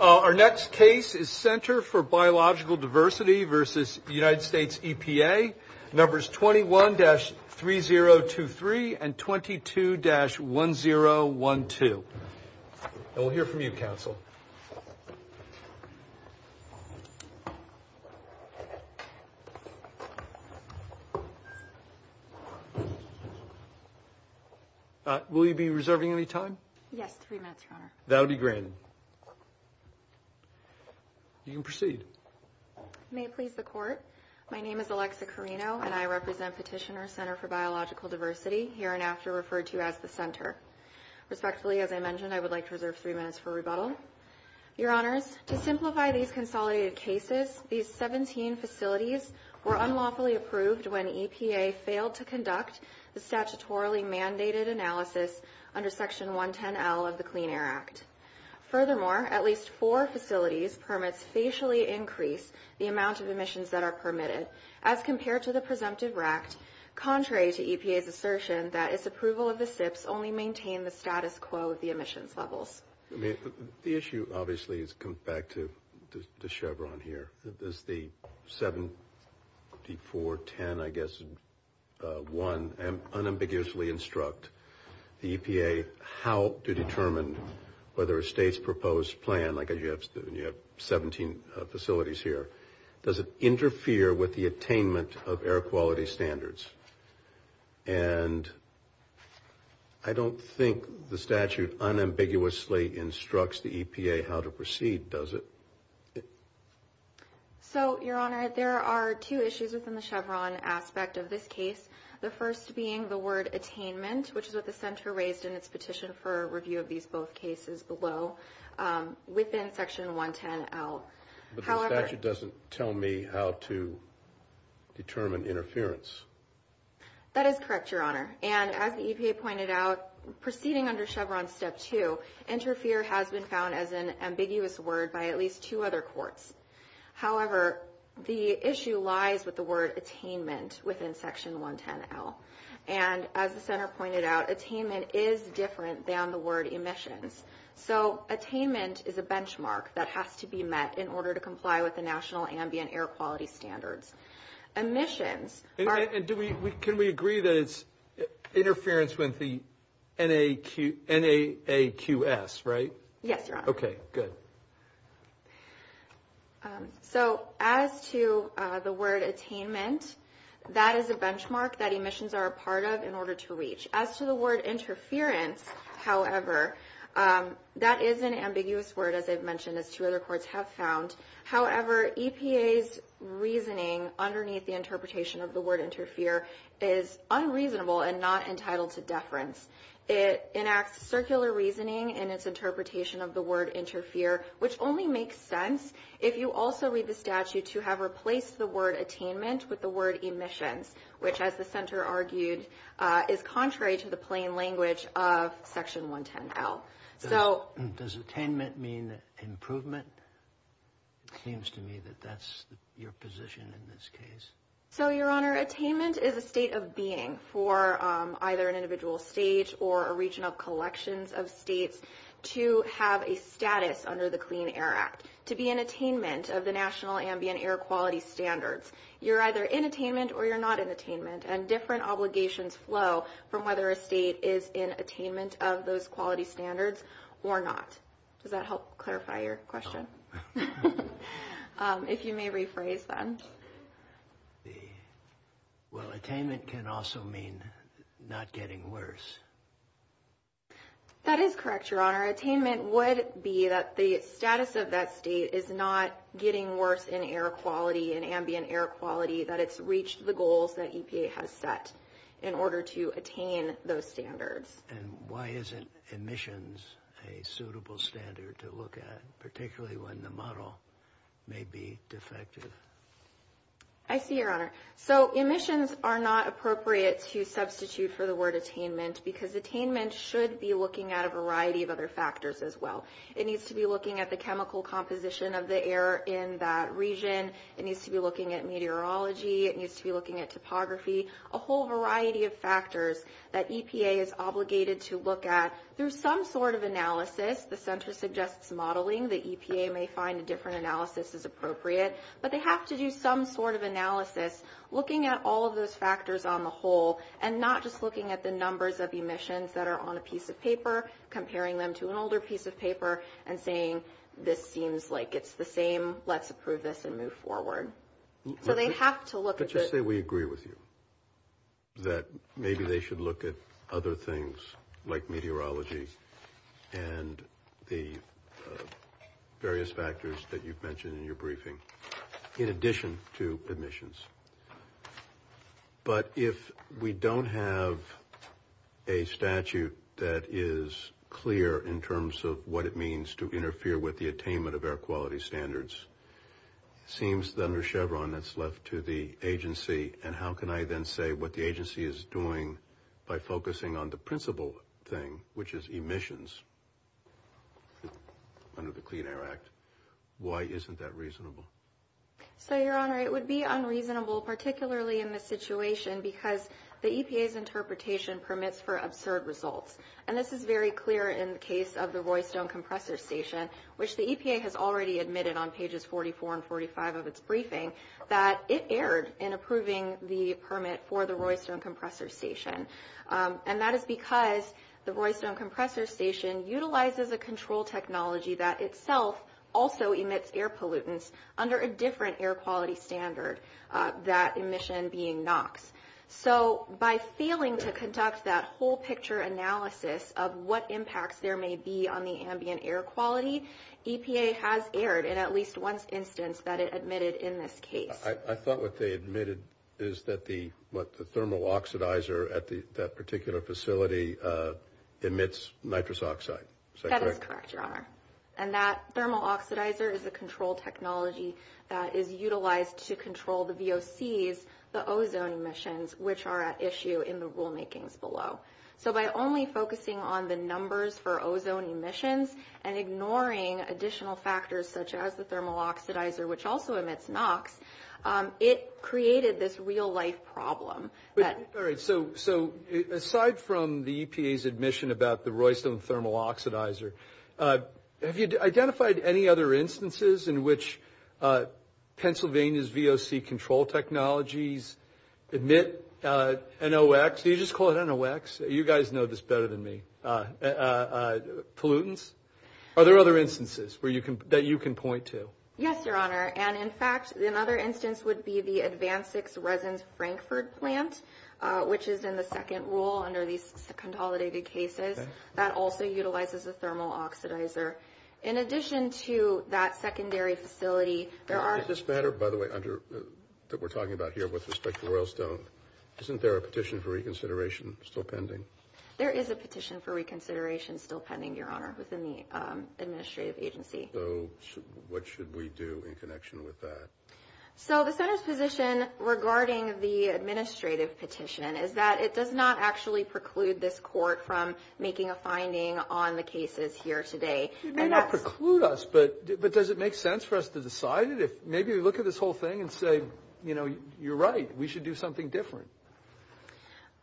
Our next case is Center for Biological Diversity v. United States EPA. Numbers 21-3023 and 22-1012. And we'll hear from you counsel. Will you be reserving any time? Yes, three minutes, Your Honor. That'll be granted. You can proceed. May it please the court. My name is Alexa Carino and I represent Petitioner Center for Biological Diversity, hereinafter referred to as the Center. Respectfully, as I mentioned, I would like to reserve three minutes for rebuttal. Your Honor, to simplify these consolidated cases, these 17 facilities were unlawfully approved when EPA failed to conduct the statutorily mandated analysis under Section 110L of the Clean Air Act. Furthermore, at least four facilities permits facially increase the amount of emissions that are permitted, as compared to the presumptive RACT, contrary to EPA's assertion that its approval of the SIPs only maintained the status quo of the emissions levels. The issue obviously has come back to Chevron here. Does the 7410, I guess, 1, unambiguously instruct the EPA how to determine whether a state's proposed plan, like you have 17 facilities here, does it interfere with the attainment of air quality standards? And I don't think the statute unambiguously instructs the EPA how to proceed, does it? So, Your Honor, there are two issues within the Chevron aspect of this case. The first being the word attainment, which is what the center raised in its petition for review of these both cases below within Section 110L. But the statute doesn't tell me how to determine interference. That is correct, Your Honor. And as the EPA pointed out, proceeding under Chevron Step 2, interfere has been found as an ambiguous word by at least two other courts. However, the issue lies with the word attainment within Section 110L. And as the center pointed out, attainment is different than the word emissions. So, attainment is a benchmark that has to be met in order to comply with the National Ambient Air Quality Standards. And can we agree that it's interference with the NAQS, right? Yes, Your Honor. Okay, good. So, as to the word attainment, that is a benchmark that emissions are a part of in order to reach. As to the word interference, however, that is an ambiguous word, as I've mentioned, as two other courts have found. However, EPA's reasoning underneath the interpretation of the word interfere is unreasonable and not entitled to deference. It enacts circular reasoning in its interpretation of the word interfere, which only makes sense if you also read the statute to have replaced the word attainment with the word emissions, which, as the center argued, is contrary to the plain language of Section 110L. Does attainment mean improvement? It seems to me that that's your position in this case. So, Your Honor, attainment is a state of being for either an individual state or a region of collections of states to have a status under the Clean Air Act, to be in attainment of the National Ambient Air Quality Standards. You're either in attainment or you're not in attainment, and different obligations flow from whether a state is in attainment of those quality standards or not. Does that help clarify your question? If you may rephrase, then. Well, attainment can also mean not getting worse. That is correct, Your Honor. Attainment would be that the status of that state is not getting worse in air quality, in ambient air quality, that it's reached the goals that EPA has set in order to attain those standards. And why isn't emissions a suitable standard to look at, particularly when the model may be defective? I see, Your Honor. So emissions are not appropriate to substitute for the word attainment because attainment should be looking at a variety of other factors as well. It needs to be looking at the chemical composition of the air in that region. It needs to be looking at meteorology. It needs to be looking at topography. A whole variety of factors that EPA is obligated to look at through some sort of analysis. The Center suggests modeling. The EPA may find a different analysis is appropriate. But they have to do some sort of analysis looking at all of those factors on the whole and not just looking at the numbers of emissions that are on a piece of paper, comparing them to an older piece of paper, and saying, this seems like it's the same. Let's approve this and move forward. So they have to look at it. Let's say we agree with you that maybe they should look at other things like meteorology and the various factors that you've mentioned in your briefing in addition to emissions. But if we don't have a statute that is clear in terms of what it means to interfere with the attainment of air quality standards, it seems under Chevron it's left to the agency. And how can I then say what the agency is doing by focusing on the principal thing, which is emissions under the Clean Air Act? Why isn't that reasonable? So, Your Honor, it would be unreasonable, particularly in this situation, because the EPA's interpretation permits for absurd results. And this is very clear in the case of the Roystone Compressor Station, which the EPA has already admitted on pages 44 and 45 of its briefing that it erred in approving the permit for the Roystone Compressor Station. And that is because the Roystone Compressor Station utilizes a control technology that itself also emits air pollutants under a different air quality standard, that emission being NOx. So by failing to conduct that whole-picture analysis of what impacts there may be on the ambient air quality, EPA has erred in at least one instance that it admitted in this case. I thought what they admitted is that the thermal oxidizer at that particular facility emits nitrous oxide. Is that correct? That is correct, Your Honor. And that thermal oxidizer is a control technology that is utilized to control the VOCs, the ozone emissions, which are at issue in the rulemakings below. So by only focusing on the numbers for ozone emissions and ignoring additional factors such as the thermal oxidizer, which also emits NOx, it created this real-life problem. All right. So aside from the EPA's admission about the Roystone thermal oxidizer, have you identified any other instances in which Pennsylvania's VOC control technologies emit NOx? Do you just call it NOx? You guys know this better than me. Pollutants? Are there other instances that you can point to? Yes, Your Honor. And in fact, another instance would be the Advanced 6 Resins Frankfurt plant, which is in the second rule under these second-holidated cases. That also utilizes a thermal oxidizer. In addition to that secondary facility, there are... Is this better, by the way, that we're talking about here with respect to Roystone? Isn't there a petition for reconsideration still pending? There is a petition for reconsideration still pending, Your Honor, within the administrative agency. So what should we do in connection with that? So the Senate's position regarding the administrative petition is that it does not actually preclude this court from making a finding on the cases here today. It may not preclude us, but does it make sense for us to decide it? Maybe look at this whole thing and say, you know, you're right. We should do something different.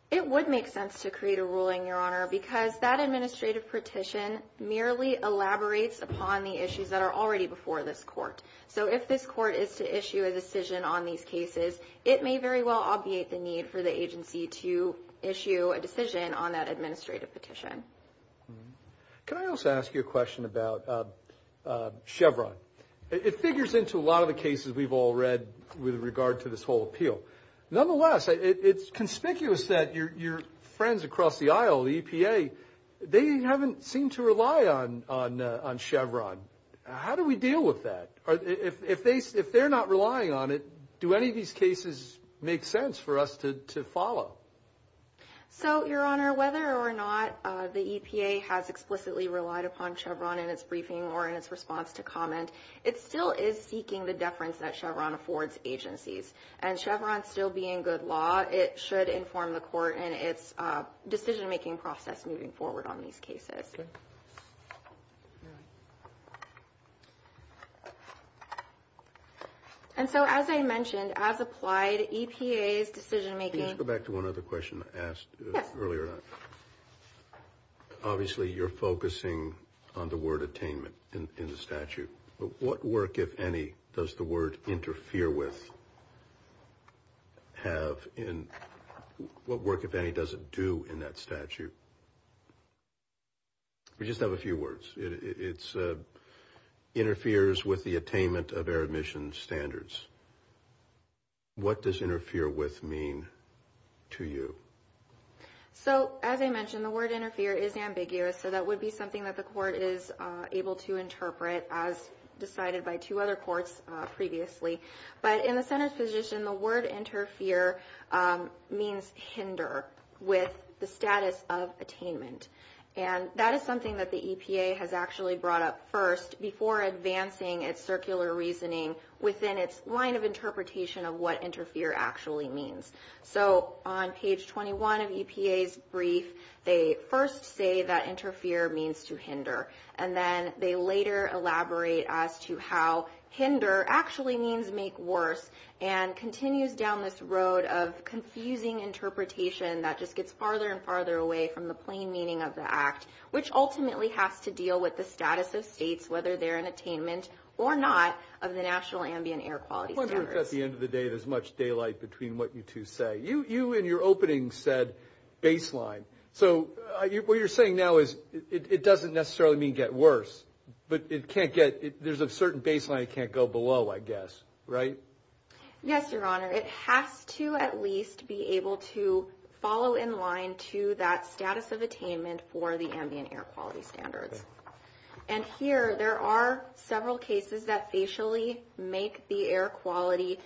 It would make sense to create a ruling, Your Honor, because that administrative petition merely elaborates upon the issues that are already before this court. So if this court is to issue a decision on these cases, it may very well obviate the need for the agency to issue a decision on that administrative petition. Can I also ask you a question about Chevron? It figures into a lot of the cases we've all read with regard to this whole appeal. Nonetheless, it's conspicuous that your friends across the aisle, the EPA, they haven't seemed to rely on Chevron. How do we deal with that? If they're not relying on it, do any of these cases make sense for us to follow? So, Your Honor, whether or not the EPA has explicitly relied upon Chevron in its briefing or in its response to comment, it still is seeking the deference that Chevron affords agencies. And Chevron still being good law, it should inform the court in its decision-making process moving forward on these cases. And so, as I mentioned, as applied, EPA's decision-making... What work, if any, does the word interfere with have in... What work, if any, does it do in that statute? We just have a few words. It interferes with the attainment of air emissions standards. What does interfere with mean to you? So, as I mentioned, the word interfere is ambiguous, so that would be something that the court is able to interpret as decided by two other courts previously. But in the Senate's position, the word interfere means hinder with the status of attainment. And that is something that the EPA has actually brought up first before advancing its circular reasoning within its line of interpretation of what interfere actually means. So, on page 21 of EPA's brief, they first say that interfere means to hinder. And then they later elaborate as to how hinder actually means make worse and continues down this road of confusing interpretation that just gets farther and farther away from the plain meaning of the act, which ultimately has to deal with the status of states, whether they're in attainment or not, of the national ambient air quality standards. At the end of the day, there's much daylight between what you two say. You, in your opening, said baseline. So, what you're saying now is it doesn't necessarily mean get worse, but there's a certain baseline it can't go below, I guess, right? Yes, Your Honor. It has to at least be able to follow in line to that status of attainment for the ambient air quality standards. And here, there are several cases that facially make the air quality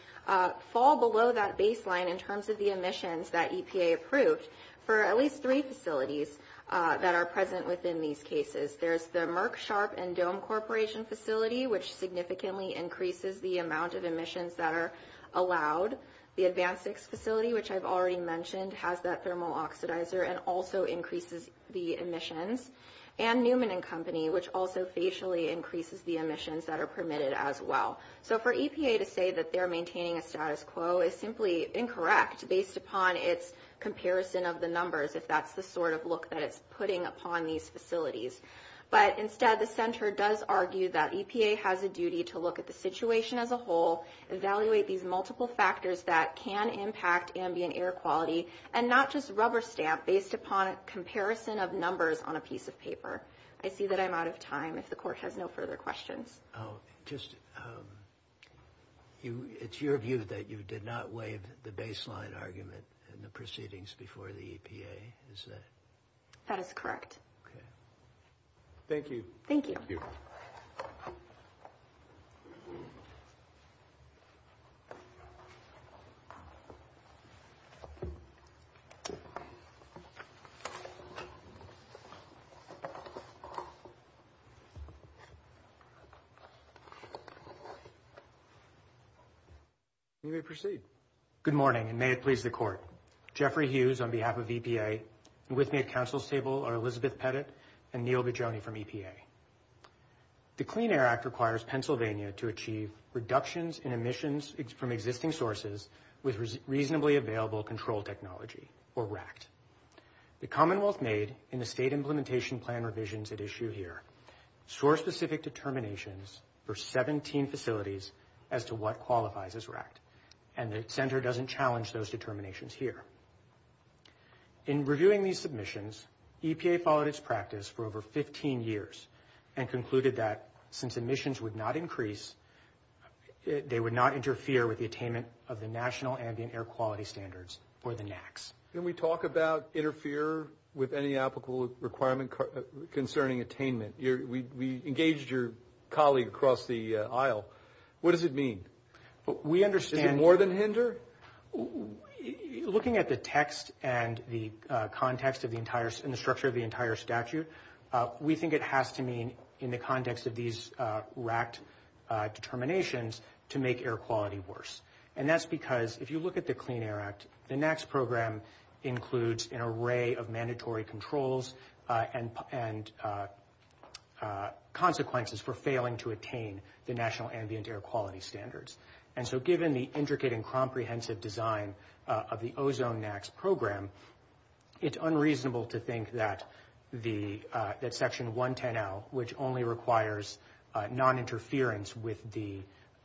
fall below that baseline in terms of the emissions that EPA approved for at least three facilities that are present within these cases. There's the Merck, Sharp, and Dome Corporation facility, which significantly increases the amount of emissions that are allowed. The Advanced 6 facility, which I've already mentioned, has that thermal oxidizer and also increases the emissions. And Newman and Company, which also facially increases the emissions that are permitted as well. So, for EPA to say that they're maintaining a status quo is simply incorrect based upon its comparison of the numbers, if that's the sort of look that it's putting upon these facilities. But instead, the Center does argue that EPA has a duty to look at the situation as a whole, evaluate these multiple factors that can impact ambient air quality, and not just rubber stamp based upon a comparison of numbers on a piece of paper. I see that I'm out of time if the Court has no further questions. Oh, just, it's your view that you did not waive the baseline argument in the proceedings before the EPA, is that it? That is correct. Thank you. Thank you. Thank you. You may proceed. Good morning, and may it please the Court. Jeffrey Hughes on behalf of EPA, and with me at Council's table are Elizabeth Pettit and Neil Vigioni from EPA. The Clean Air Act requires Pennsylvania to achieve reductions in emissions from existing sources with reasonably available control technology, or RACT. The Commonwealth made, in the State Implementation Plan revisions at issue here, source-specific determinations for 17 facilities as to what qualifies as RACT, and the Center doesn't challenge those determinations here. In reviewing these submissions, EPA followed its practice for over 15 years, and concluded that since emissions would not increase, they would not interfere with the attainment of the National Ambient Air Quality Standards, or the NAAQS. Can we talk about interfere with any applicable requirement concerning attainment? We engaged your colleague across the aisle. What does it mean? Is it more than hinder? Looking at the text and the context of the entire, and the structure of the entire statute, we think it has to mean, in the context of these RACT determinations, to make air quality worse. And that's because, if you look at the Clean Air Act, the NAAQS program includes an array of mandatory controls and consequences for failing to attain the National Ambient Air Quality Standards. And so, given the intricate and comprehensive design of the Ozone NAAQS program, it's unreasonable to think that Section 110L, which only requires non-interference with the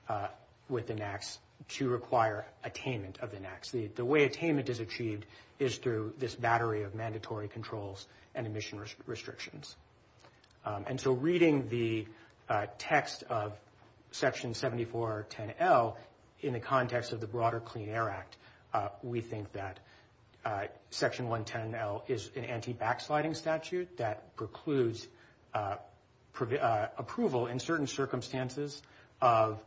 NAAQS, to require attainment of the NAAQS. The way attainment is achieved is through this battery of mandatory controls and emission restrictions. And so, reading the text of Section 7410L, in the context of the broader Clean Air Act, we think that Section 110L is an anti-backsliding statute that precludes approval in certain circumstances of,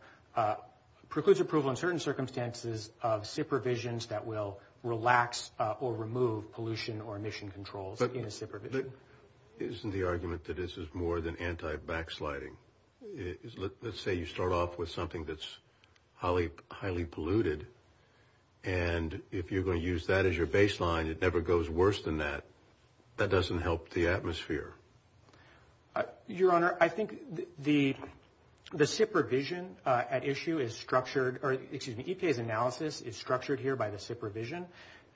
precludes approval in certain circumstances of supervision that will relax or remove pollution or emission controls in a supervision. But isn't the argument that this is more than anti-backsliding? Let's say you start off with something that's highly polluted, and if you're going to use that as your baseline, it never goes worse than that. That doesn't help the atmosphere. Your Honor, I think the SIP revision at issue is structured, or excuse me, EPA's analysis is structured here by the SIP revision.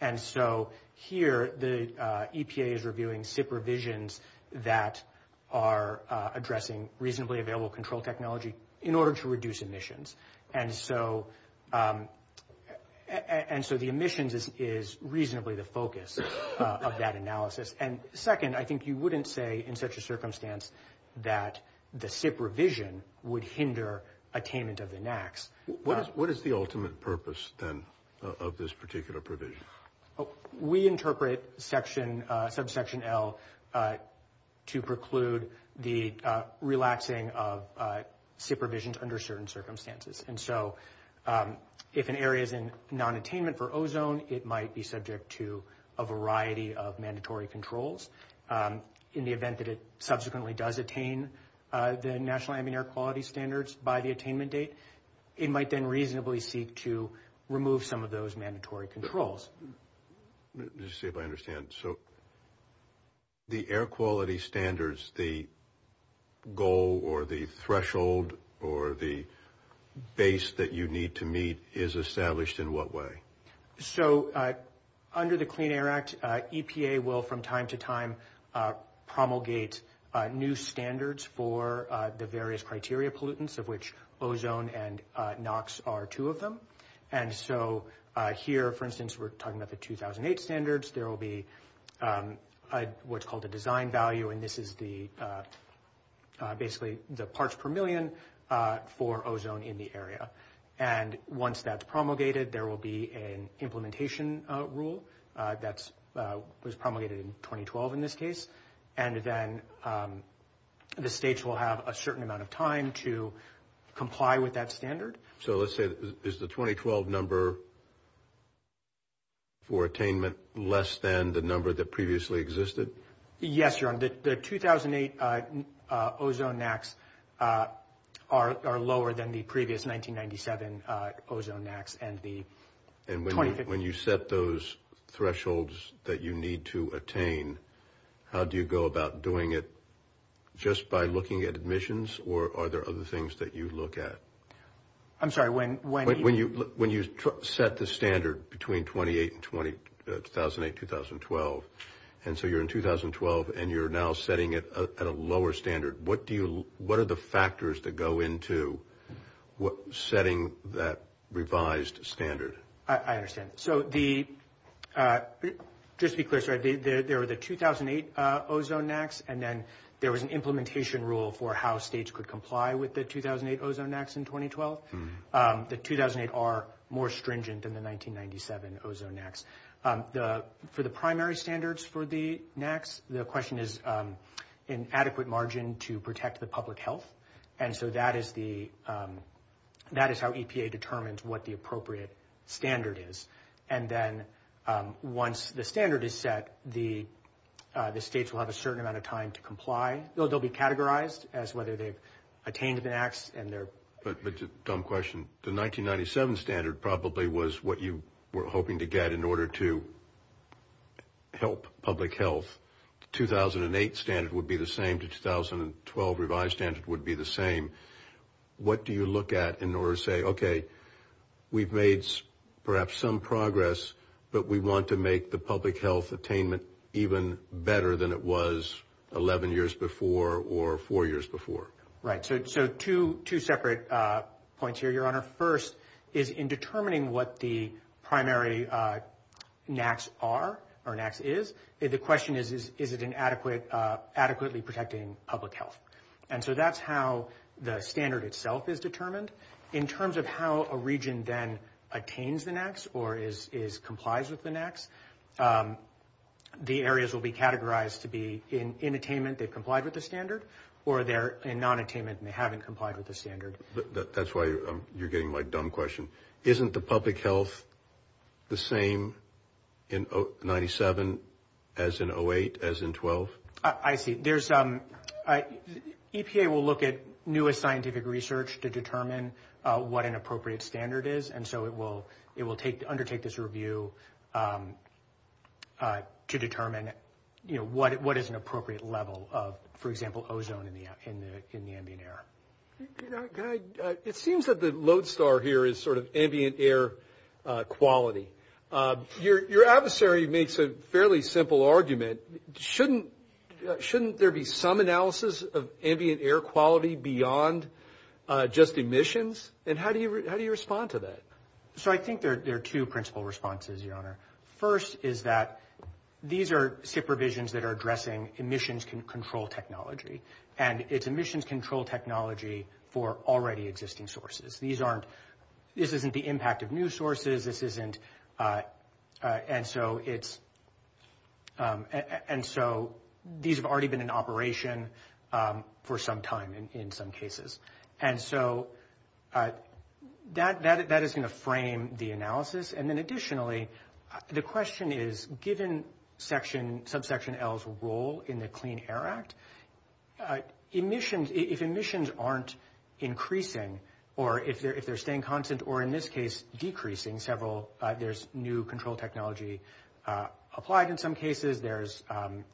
And so, here the EPA is reviewing SIP revisions that are addressing reasonably available control technology in order to reduce emissions. And so, the emissions is reasonably the focus of that analysis. And second, I think you wouldn't say in such a circumstance that the SIP revision would hinder attainment of the NAAQS. What is the ultimate purpose, then, of this particular provision? We interpret Subsection L to preclude the relaxing of SIP revisions under certain circumstances. And so, if an area is in non-attainment for ozone, it might be subject to a variety of mandatory controls. In the event that it subsequently does attain the National Ambient Air Quality Standards by the attainment date, it might then reasonably seek to remove some of those mandatory controls. Let me see if I understand. So, the air quality standards, the goal or the threshold or the base that you need to meet is established in what way? So, under the Clean Air Act, EPA will from time to time promulgate new standards for the various criteria pollutants of which ozone and NAAQS are two of them. And so, here, for instance, we're talking about the 2008 standards. There will be what's called a design value, and this is basically the parts per million for ozone in the area. And once that's promulgated, there will be an implementation rule that was promulgated in 2012 in this case. And then the states will have a certain amount of time to comply with that standard. So, let's say, is the 2012 number for attainment less than the number that previously existed? Yes, Your Honor. The 2008 ozone NAAQS are lower than the previous 1997 ozone NAAQS. And when you set those thresholds that you need to attain, how do you go about doing it? Just by looking at admissions, or are there other things that you look at? I'm sorry, when you... When you set the standard between 2008 and 2012, and so you're in 2012 and you're now setting it at a lower standard, what are the factors that go into setting that revised standard? I understand. So, just to be clear, there were the 2008 ozone NAAQS, and then there was an implementation rule for how states could comply with the 2008 ozone NAAQS in 2012. The 2008 are more stringent than the 1997 ozone NAAQS. For the primary standards for the NAAQS, the question is an adequate margin to protect the public health. And so that is how EPA determines what the appropriate standard is. And then once the standard is set, the states will have a certain amount of time to comply. They'll be categorized as whether they've attained the NAAQS and they're... But it's a dumb question. The 1997 standard probably was what you were hoping to get in order to help public health. The 2008 standard would be the same. The 2012 revised standard would be the same. What do you look at in order to say, okay, we've made perhaps some progress, but we want to make the public health attainment even better than it was 11 years before or four years before? Right. So two separate points here, Your Honor. First is in determining what the primary NAAQS are or NAAQS is, the question is, is it adequately protecting public health? And so that's how the standard itself is determined. In terms of how a region then attains the NAAQS or complies with the NAAQS, the areas will be categorized to be in attainment they've complied with the standard or they're in non-attainment and they haven't complied with the standard. That's why you're getting my dumb question. Isn't the public health the same in 97 as in 08 as in 12? I see. EPA will look at newest scientific research to determine what an appropriate standard is, and so it will undertake this review to determine what is an appropriate level of, for example, ozone in the ambient air. It seems that the lodestar here is sort of ambient air quality. Your adversary makes a fairly simple argument. Shouldn't there be some analysis of ambient air quality beyond just emissions? And how do you respond to that? So I think there are two principal responses, Your Honor. First is that these are supervisions that are addressing emissions control technology, and it's emissions control technology for already existing sources. These aren't, this isn't the impact of new sources. This isn't, and so it's, and so these have already been in operation for some time in some cases. And so that is going to frame the analysis. And then additionally, the question is, given subsection L's role in the Clean Air Act, emissions, if emissions aren't increasing, or if they're staying constant, or in this case decreasing several, there's new control technology applied in some cases, there's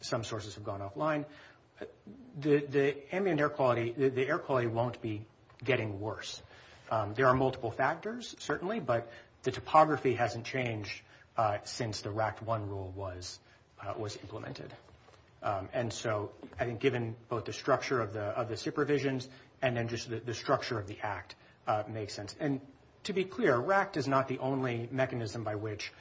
some sources have gone offline, the ambient air quality, the air quality won't be getting worse. There are multiple factors, certainly, but the topography hasn't changed since the RACT-1 rule was implemented. And so I think given both the structure of the supervisions, and then just the structure of the act makes sense. And to be clear, RACT is not the only mechanism by which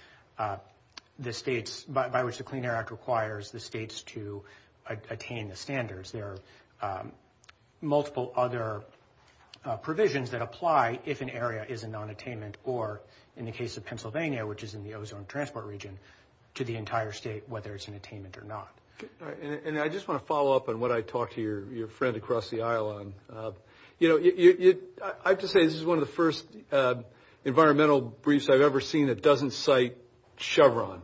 the states, by which the Clean Air Act requires the states to attain the standards. There are multiple other provisions that apply if an area is a non-attainment, or in the case of Pennsylvania, which is in the ozone transport region, to the entire state, whether it's an attainment or not. And I just want to follow up on what I talked to your friend across the aisle on. You know, I have to say, this is one of the first environmental briefs I've ever seen that doesn't cite Chevron.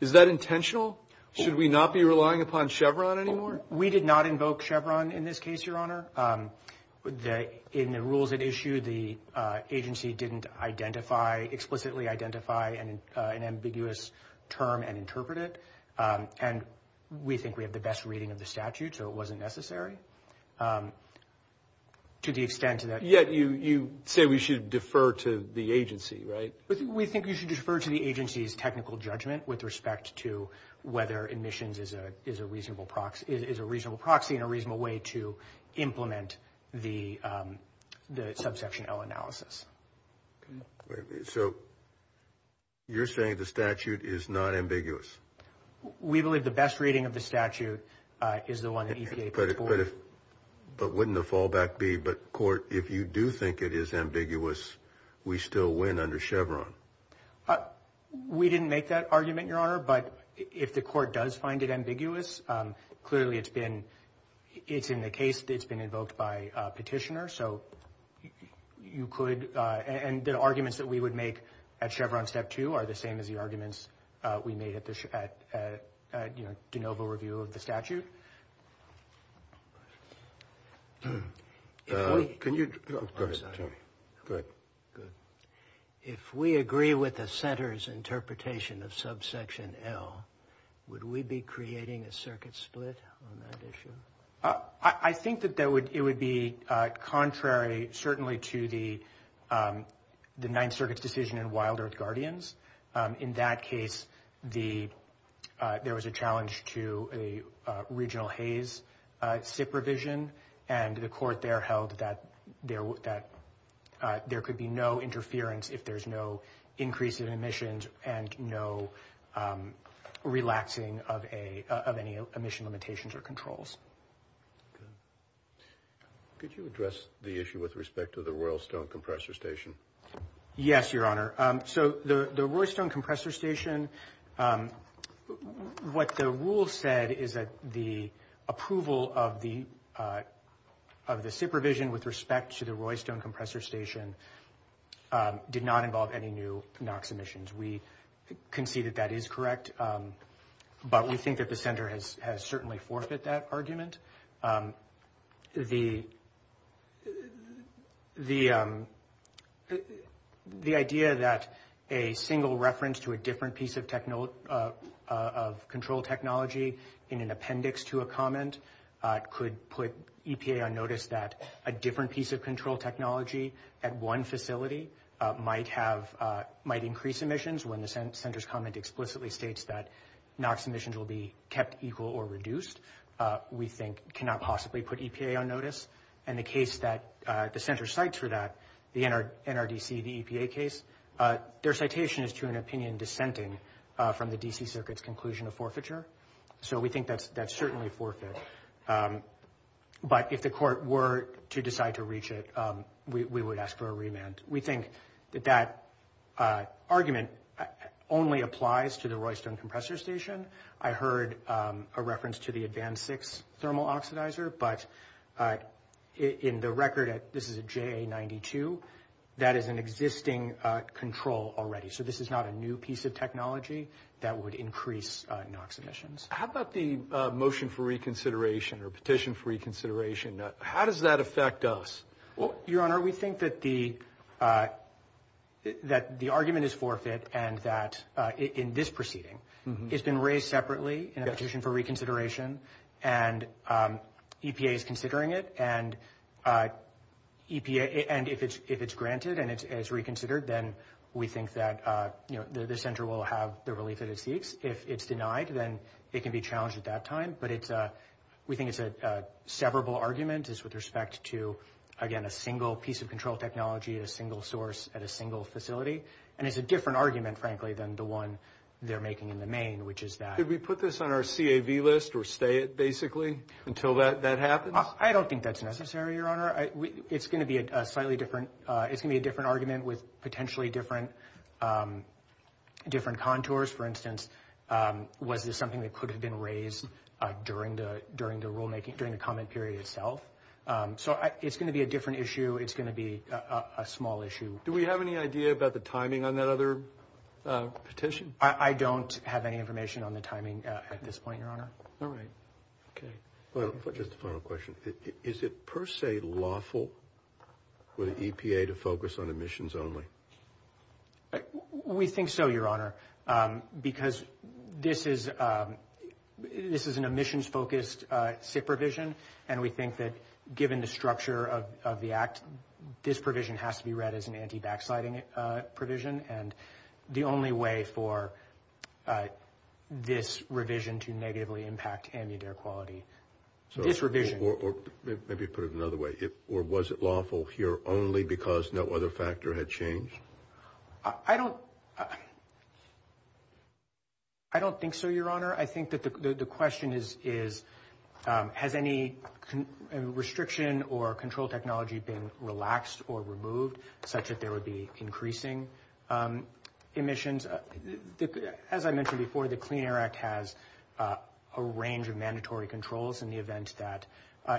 Is that intentional? Should we not be relying upon Chevron anymore? We did not invoke Chevron in this case, Your Honor. In the rules at issue, the agency didn't identify, explicitly identify an ambiguous term and interpret it. And we think we have the best reading of the statute, so it wasn't necessary to the extent that... Yet you say we should defer to the agency, right? We think you should defer to the agency's technical judgment with respect to whether emissions is a reasonable proxy and a reasonable way to implement the subsection L analysis. So you're saying the statute is not ambiguous? We believe the best reading of the statute is the one that EPA puts forward. But wouldn't the fallback be, but court, if you do think it is ambiguous, we still win under Chevron? We didn't make that argument, Your Honor, but if the court does find it ambiguous, clearly it's been, it's in the case that it's been invoked by a petitioner. So you could, and the arguments that we would make at Chevron Step 2 are the same as the arguments we made at the, you know, de novo review of the statute. If we agree with the center's interpretation of subsection L, would we be creating a circuit split on that issue? I think that it would be contrary, certainly, to the Ninth Circuit's decision in Wild Earth Guardians. In that case, the, there was a challenge to a regional Hays SIP revision. And the court there held that there could be no interference if there's no increase in emissions and no relaxing of any emission limitations or controls. Good. Could you address the issue with respect to the Royal Stone Compressor Station? Yes, Your Honor. So the Royal Stone Compressor Station, what the rule said is that the approval of the SIP revision with respect to the Royal Stone Compressor Station did not involve any new NOx emissions. We concede that that is correct, but we think that the center has certainly forfeit that argument. The idea that a single reference to a different piece of control technology in an appendix to a comment could put EPA on notice that a different piece of control technology at one facility might increase emissions when the center's comment explicitly states that NOx emissions will be kept equal or reduced. We think cannot possibly put EPA on notice. And the case that the center cites for that, the NRDC, the EPA case, their citation is to an opinion dissenting from the D.C. Circuit's conclusion of forfeiture. So we think that's certainly forfeit. But if the court were to decide to reach it, we would ask for a remand. We think that that argument only applies to the Royal Stone Compressor Station. I heard a reference to the Advanced 6 thermal oxidizer, but in the record, this is a JA-92, that is an existing control already. So this is not a new piece of technology that would increase NOx emissions. How about the motion for reconsideration or petition for reconsideration? How does that affect us? Well, Your Honor, we think that the argument is forfeit and that in this proceeding, it's been raised separately in a petition for reconsideration and EPA is considering it. And if it's granted and it's reconsidered, then we think that the center will have the relief that it seeks. If it's denied, then it can be challenged at that time. But we think it's a severable argument with respect to, again, a single piece of control technology at a single source at a single facility. And it's a different argument, frankly, than the one they're making in the main, which is that... Could we put this on our CAV list or stay it basically until that happens? I don't think that's necessary, Your Honor. It's going to be a slightly different... It's going to be a different argument with potentially different contours. For instance, was this something that could have been raised during the rulemaking, during the comment period itself? So it's going to be a different issue. It's going to be a small issue. Do we have any idea about the timing on that other petition? I don't have any information on the timing at this point, Your Honor. All right. Okay. Just a final question. Is it per se lawful for the EPA to focus on emissions only? We think so, Your Honor, because this is an emissions-focused SIP provision. And we think that given the structure of the Act, this provision has to be read as an anti-backsliding provision. And the only way for this revision to negatively impact ambient air quality... Maybe put it another way. Or was it lawful here only because no other factor had changed? I don't... I don't think so, Your Honor. I think that the question is, has any restriction or control technology been relaxed or removed such that there would be increasing emissions? As I mentioned before, the Clean Air Act has a range of mandatory controls in the event that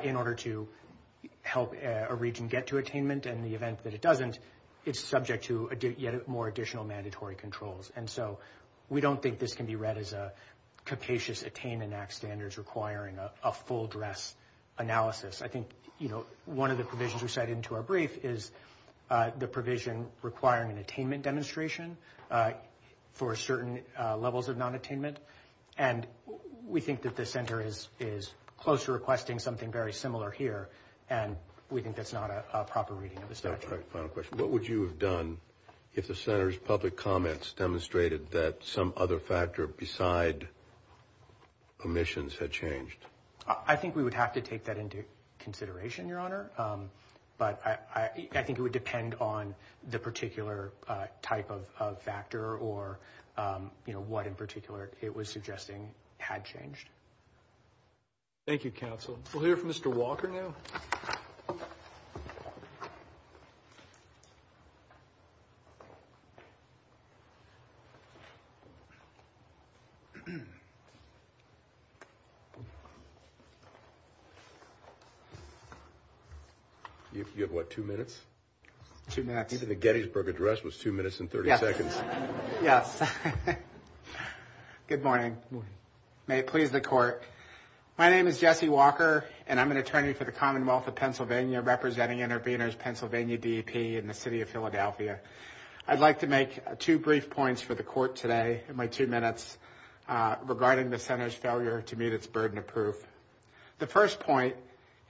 in order to help a region get to attainment, and in the event that it doesn't, it's subject to yet more additional mandatory controls. And so we don't think this can be read as a capacious Attainment Act standards requiring a full dress analysis. I think, you know, one of the provisions we said into our brief is the provision requiring an attainment demonstration for certain levels of non-attainment. And we think that the Center is close to requesting something very similar here. And we think that's not a proper reading of the statute. Final question. What would you have done if the Center's public comments demonstrated that some other factor beside emissions had changed? I think we would have to take that into consideration, Your Honor. But I think it would depend on the particular type of factor or, you know, what in particular it was suggesting had changed. Thank you, Counsel. We'll hear from Mr. Walker now. You have, what, two minutes? Two minutes. Even the Gettysburg Address was two minutes and 30 seconds. Yes. Good morning. May it please the Court. My name is Jesse Walker, and I'm an attorney for the Commonwealth of Pennsylvania representing Intervenors Pennsylvania DEP in the City of Philadelphia. I'd like to make two brief points for the Court today in my two minutes regarding the Center's failure to meet its burden of proof. The first point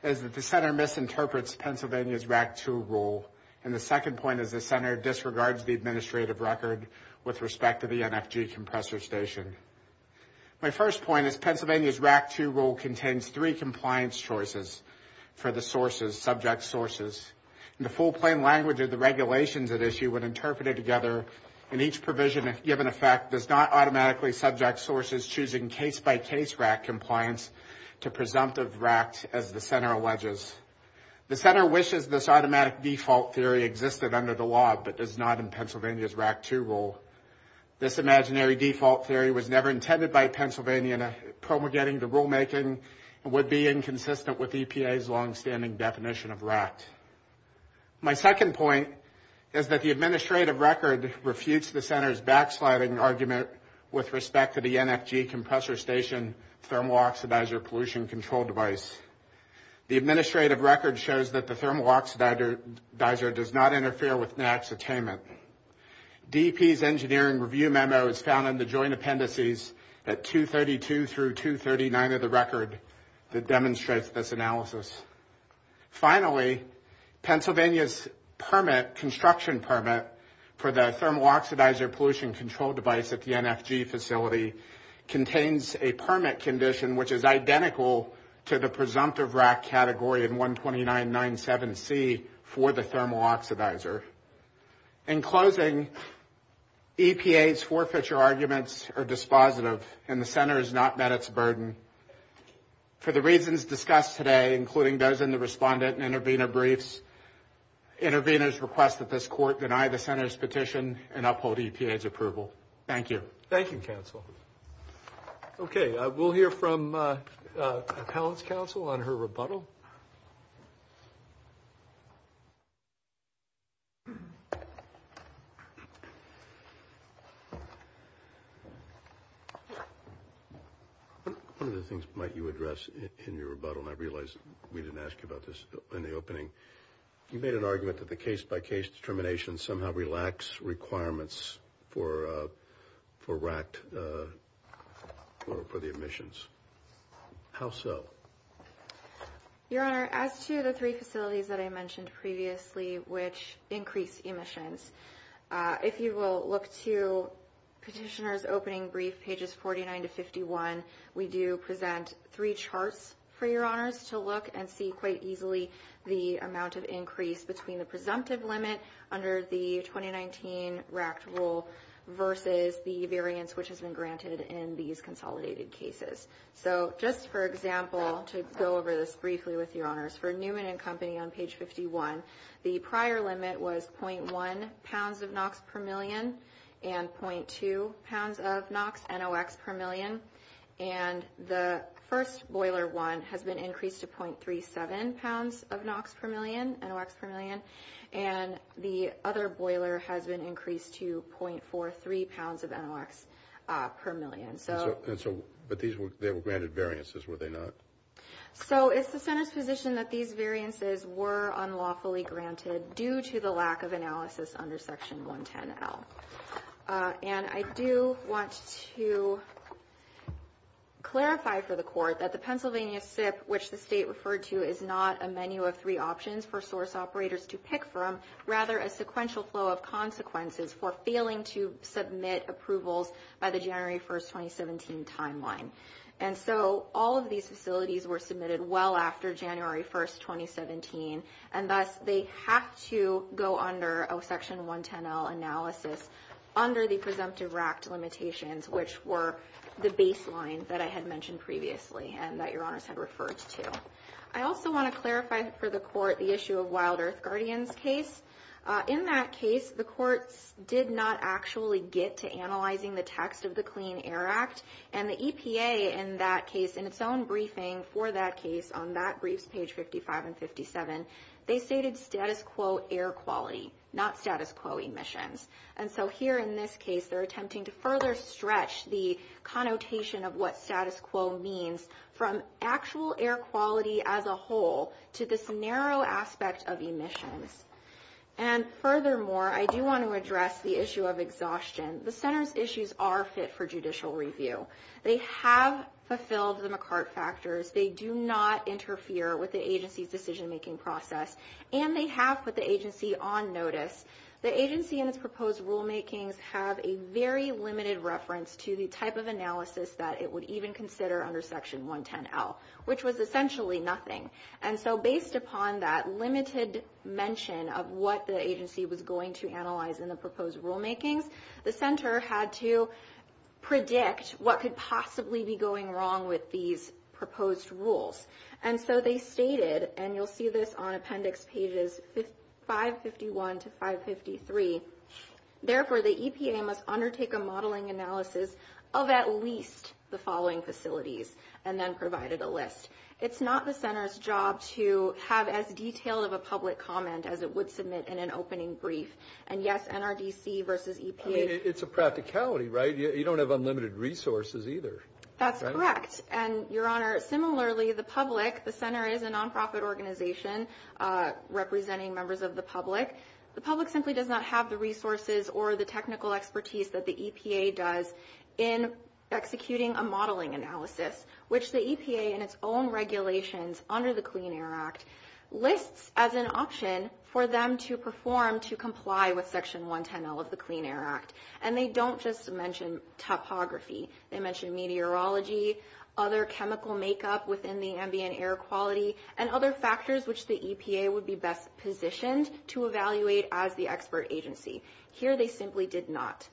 is that the Center misinterprets Pennsylvania's RAC 2 rule. And the second point is the Center disregards the administrative record with respect to the NFG compressor station. My first point is Pennsylvania's RAC 2 rule contains three compliance choices for the sources, subject sources. In the full plain language of the regulations at issue, when interpreted together in each provision given effect, does not automatically subject sources choosing case-by-case RAC compliance to presumptive RACs as the Center alleges. The Center wishes this automatic default theory existed under the law but is not in Pennsylvania's RAC 2 rule. This imaginary default theory was never intended by Pennsylvania in promulgating the rulemaking and would be inconsistent with EPA's longstanding definition of RAC. My second point is that the administrative record refutes the Center's backsliding argument with respect to the NFG compressor station thermal oxidizer pollution control device. The administrative record shows that the thermal oxidizer does not interfere with NAC's attainment. DEP's engineering review memo is found in the joint appendices at 232 through 239 of the record that demonstrates this analysis. Finally, Pennsylvania's construction permit for the thermal oxidizer pollution control device at the NFG facility contains a permit condition which is identical to the presumptive RAC category in 12997C for the thermal oxidizer. In closing, EPA's forfeiture arguments are dispositive and the Center has not met its burden. For the reasons discussed today, including those in the respondent and intervener briefs, interveners request that this court deny the Center's petition and uphold EPA's approval. Thank you. Thank you, counsel. Okay, we'll hear from Appellant's counsel on her rebuttal. One of the things might you address in your rebuttal, and I realize we didn't ask you about this in the opening. You made an argument that the case-by-case determinations somehow relax requirements for RAC for the emissions. How so? Your Honor, as to the three facilities that I mentioned previously which increase emissions, if you will look to Petitioner's opening brief, pages 49 to 51, we do present three charts for Your Honors to look and see quite easily the amount of increase between the presumptive limit under the 2019 RAC rule versus the variance which has been granted in these consolidated cases. So just for example, to go over this briefly with Your Honors, for Newman & Company on page 51, the prior limit was 0.1 pounds of NOx per million and 0.2 pounds of NOx, NOx per million, and the first boiler one has been increased to 0.37 pounds of NOx per million, NOx per million, and the other boiler has been increased to 0.43 pounds of NOx per million. But they were granted variances, were they not? So it's the Senate's position that these variances were unlawfully granted due to the lack of analysis under Section 110L. And I do want to clarify for the Court that the Pennsylvania SIP, which the State referred to, is not a menu of three options for source operators to pick from, rather a sequential flow of consequences for failing to submit approvals by the January 1, 2017 timeline. And so all of these facilities were submitted well after January 1, 2017, and thus they have to go under a Section 110L analysis under the presumptive RAC limitations, which were the baseline that I had mentioned previously and that Your Honors had referred to. I also want to clarify for the Court the issue of Wild Earth Guardians case. In that case, the Courts did not actually get to analyzing the text of the Clean Air Act, and the EPA in that case, in its own briefing for that case on that briefs page 55 and 57, they stated status quo air quality, not status quo emissions. And so here in this case, they're attempting to further stretch the connotation of what status quo means from actual air quality as a whole to this narrow aspect of emissions. And furthermore, I do want to address the issue of exhaustion. The Center's issues are fit for judicial review. They have fulfilled the McCart factors. They do not interfere with the agency's decision-making process, and they have put the agency on notice. The agency and its proposed rulemakings have a very limited reference to the type of analysis that it would even consider under Section 110L, which was essentially nothing. And so based upon that limited mention of what the agency was going to analyze in the proposed rulemakings, the Center had to predict what could possibly be going wrong with these proposed rules. And so they stated, and you'll see this on appendix pages 551 to 553, therefore the EPA must undertake a modeling analysis of at least the following facilities, and then provided a list. It's not the Center's job to have as detailed of a public comment as it would submit in an opening brief. And yes, NRDC versus EPA. I mean, it's a practicality, right? You don't have unlimited resources either. That's correct. And, Your Honor, similarly, the public, the Center is a nonprofit organization representing members of the public. The public simply does not have the resources or the technical expertise that the EPA does in executing a modeling analysis, which the EPA in its own regulations under the Clean Air Act lists as an option for them to perform to comply with Section 110L of the Clean Air Act. And they don't just mention topography. They mention meteorology, other chemical makeup within the ambient air quality, and other factors which the EPA would be best positioned to evaluate as the expert agency. Here they simply did not.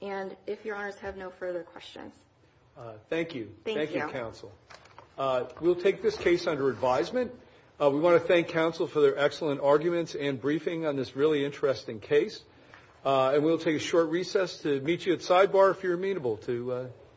And if Your Honors have no further questions. Thank you. Thank you, Counsel. We'll take this case under advisement. We want to thank Counsel for their excellent arguments and briefing on this really interesting case. And we'll take a short recess to meet you at sidebar if you're amenable to.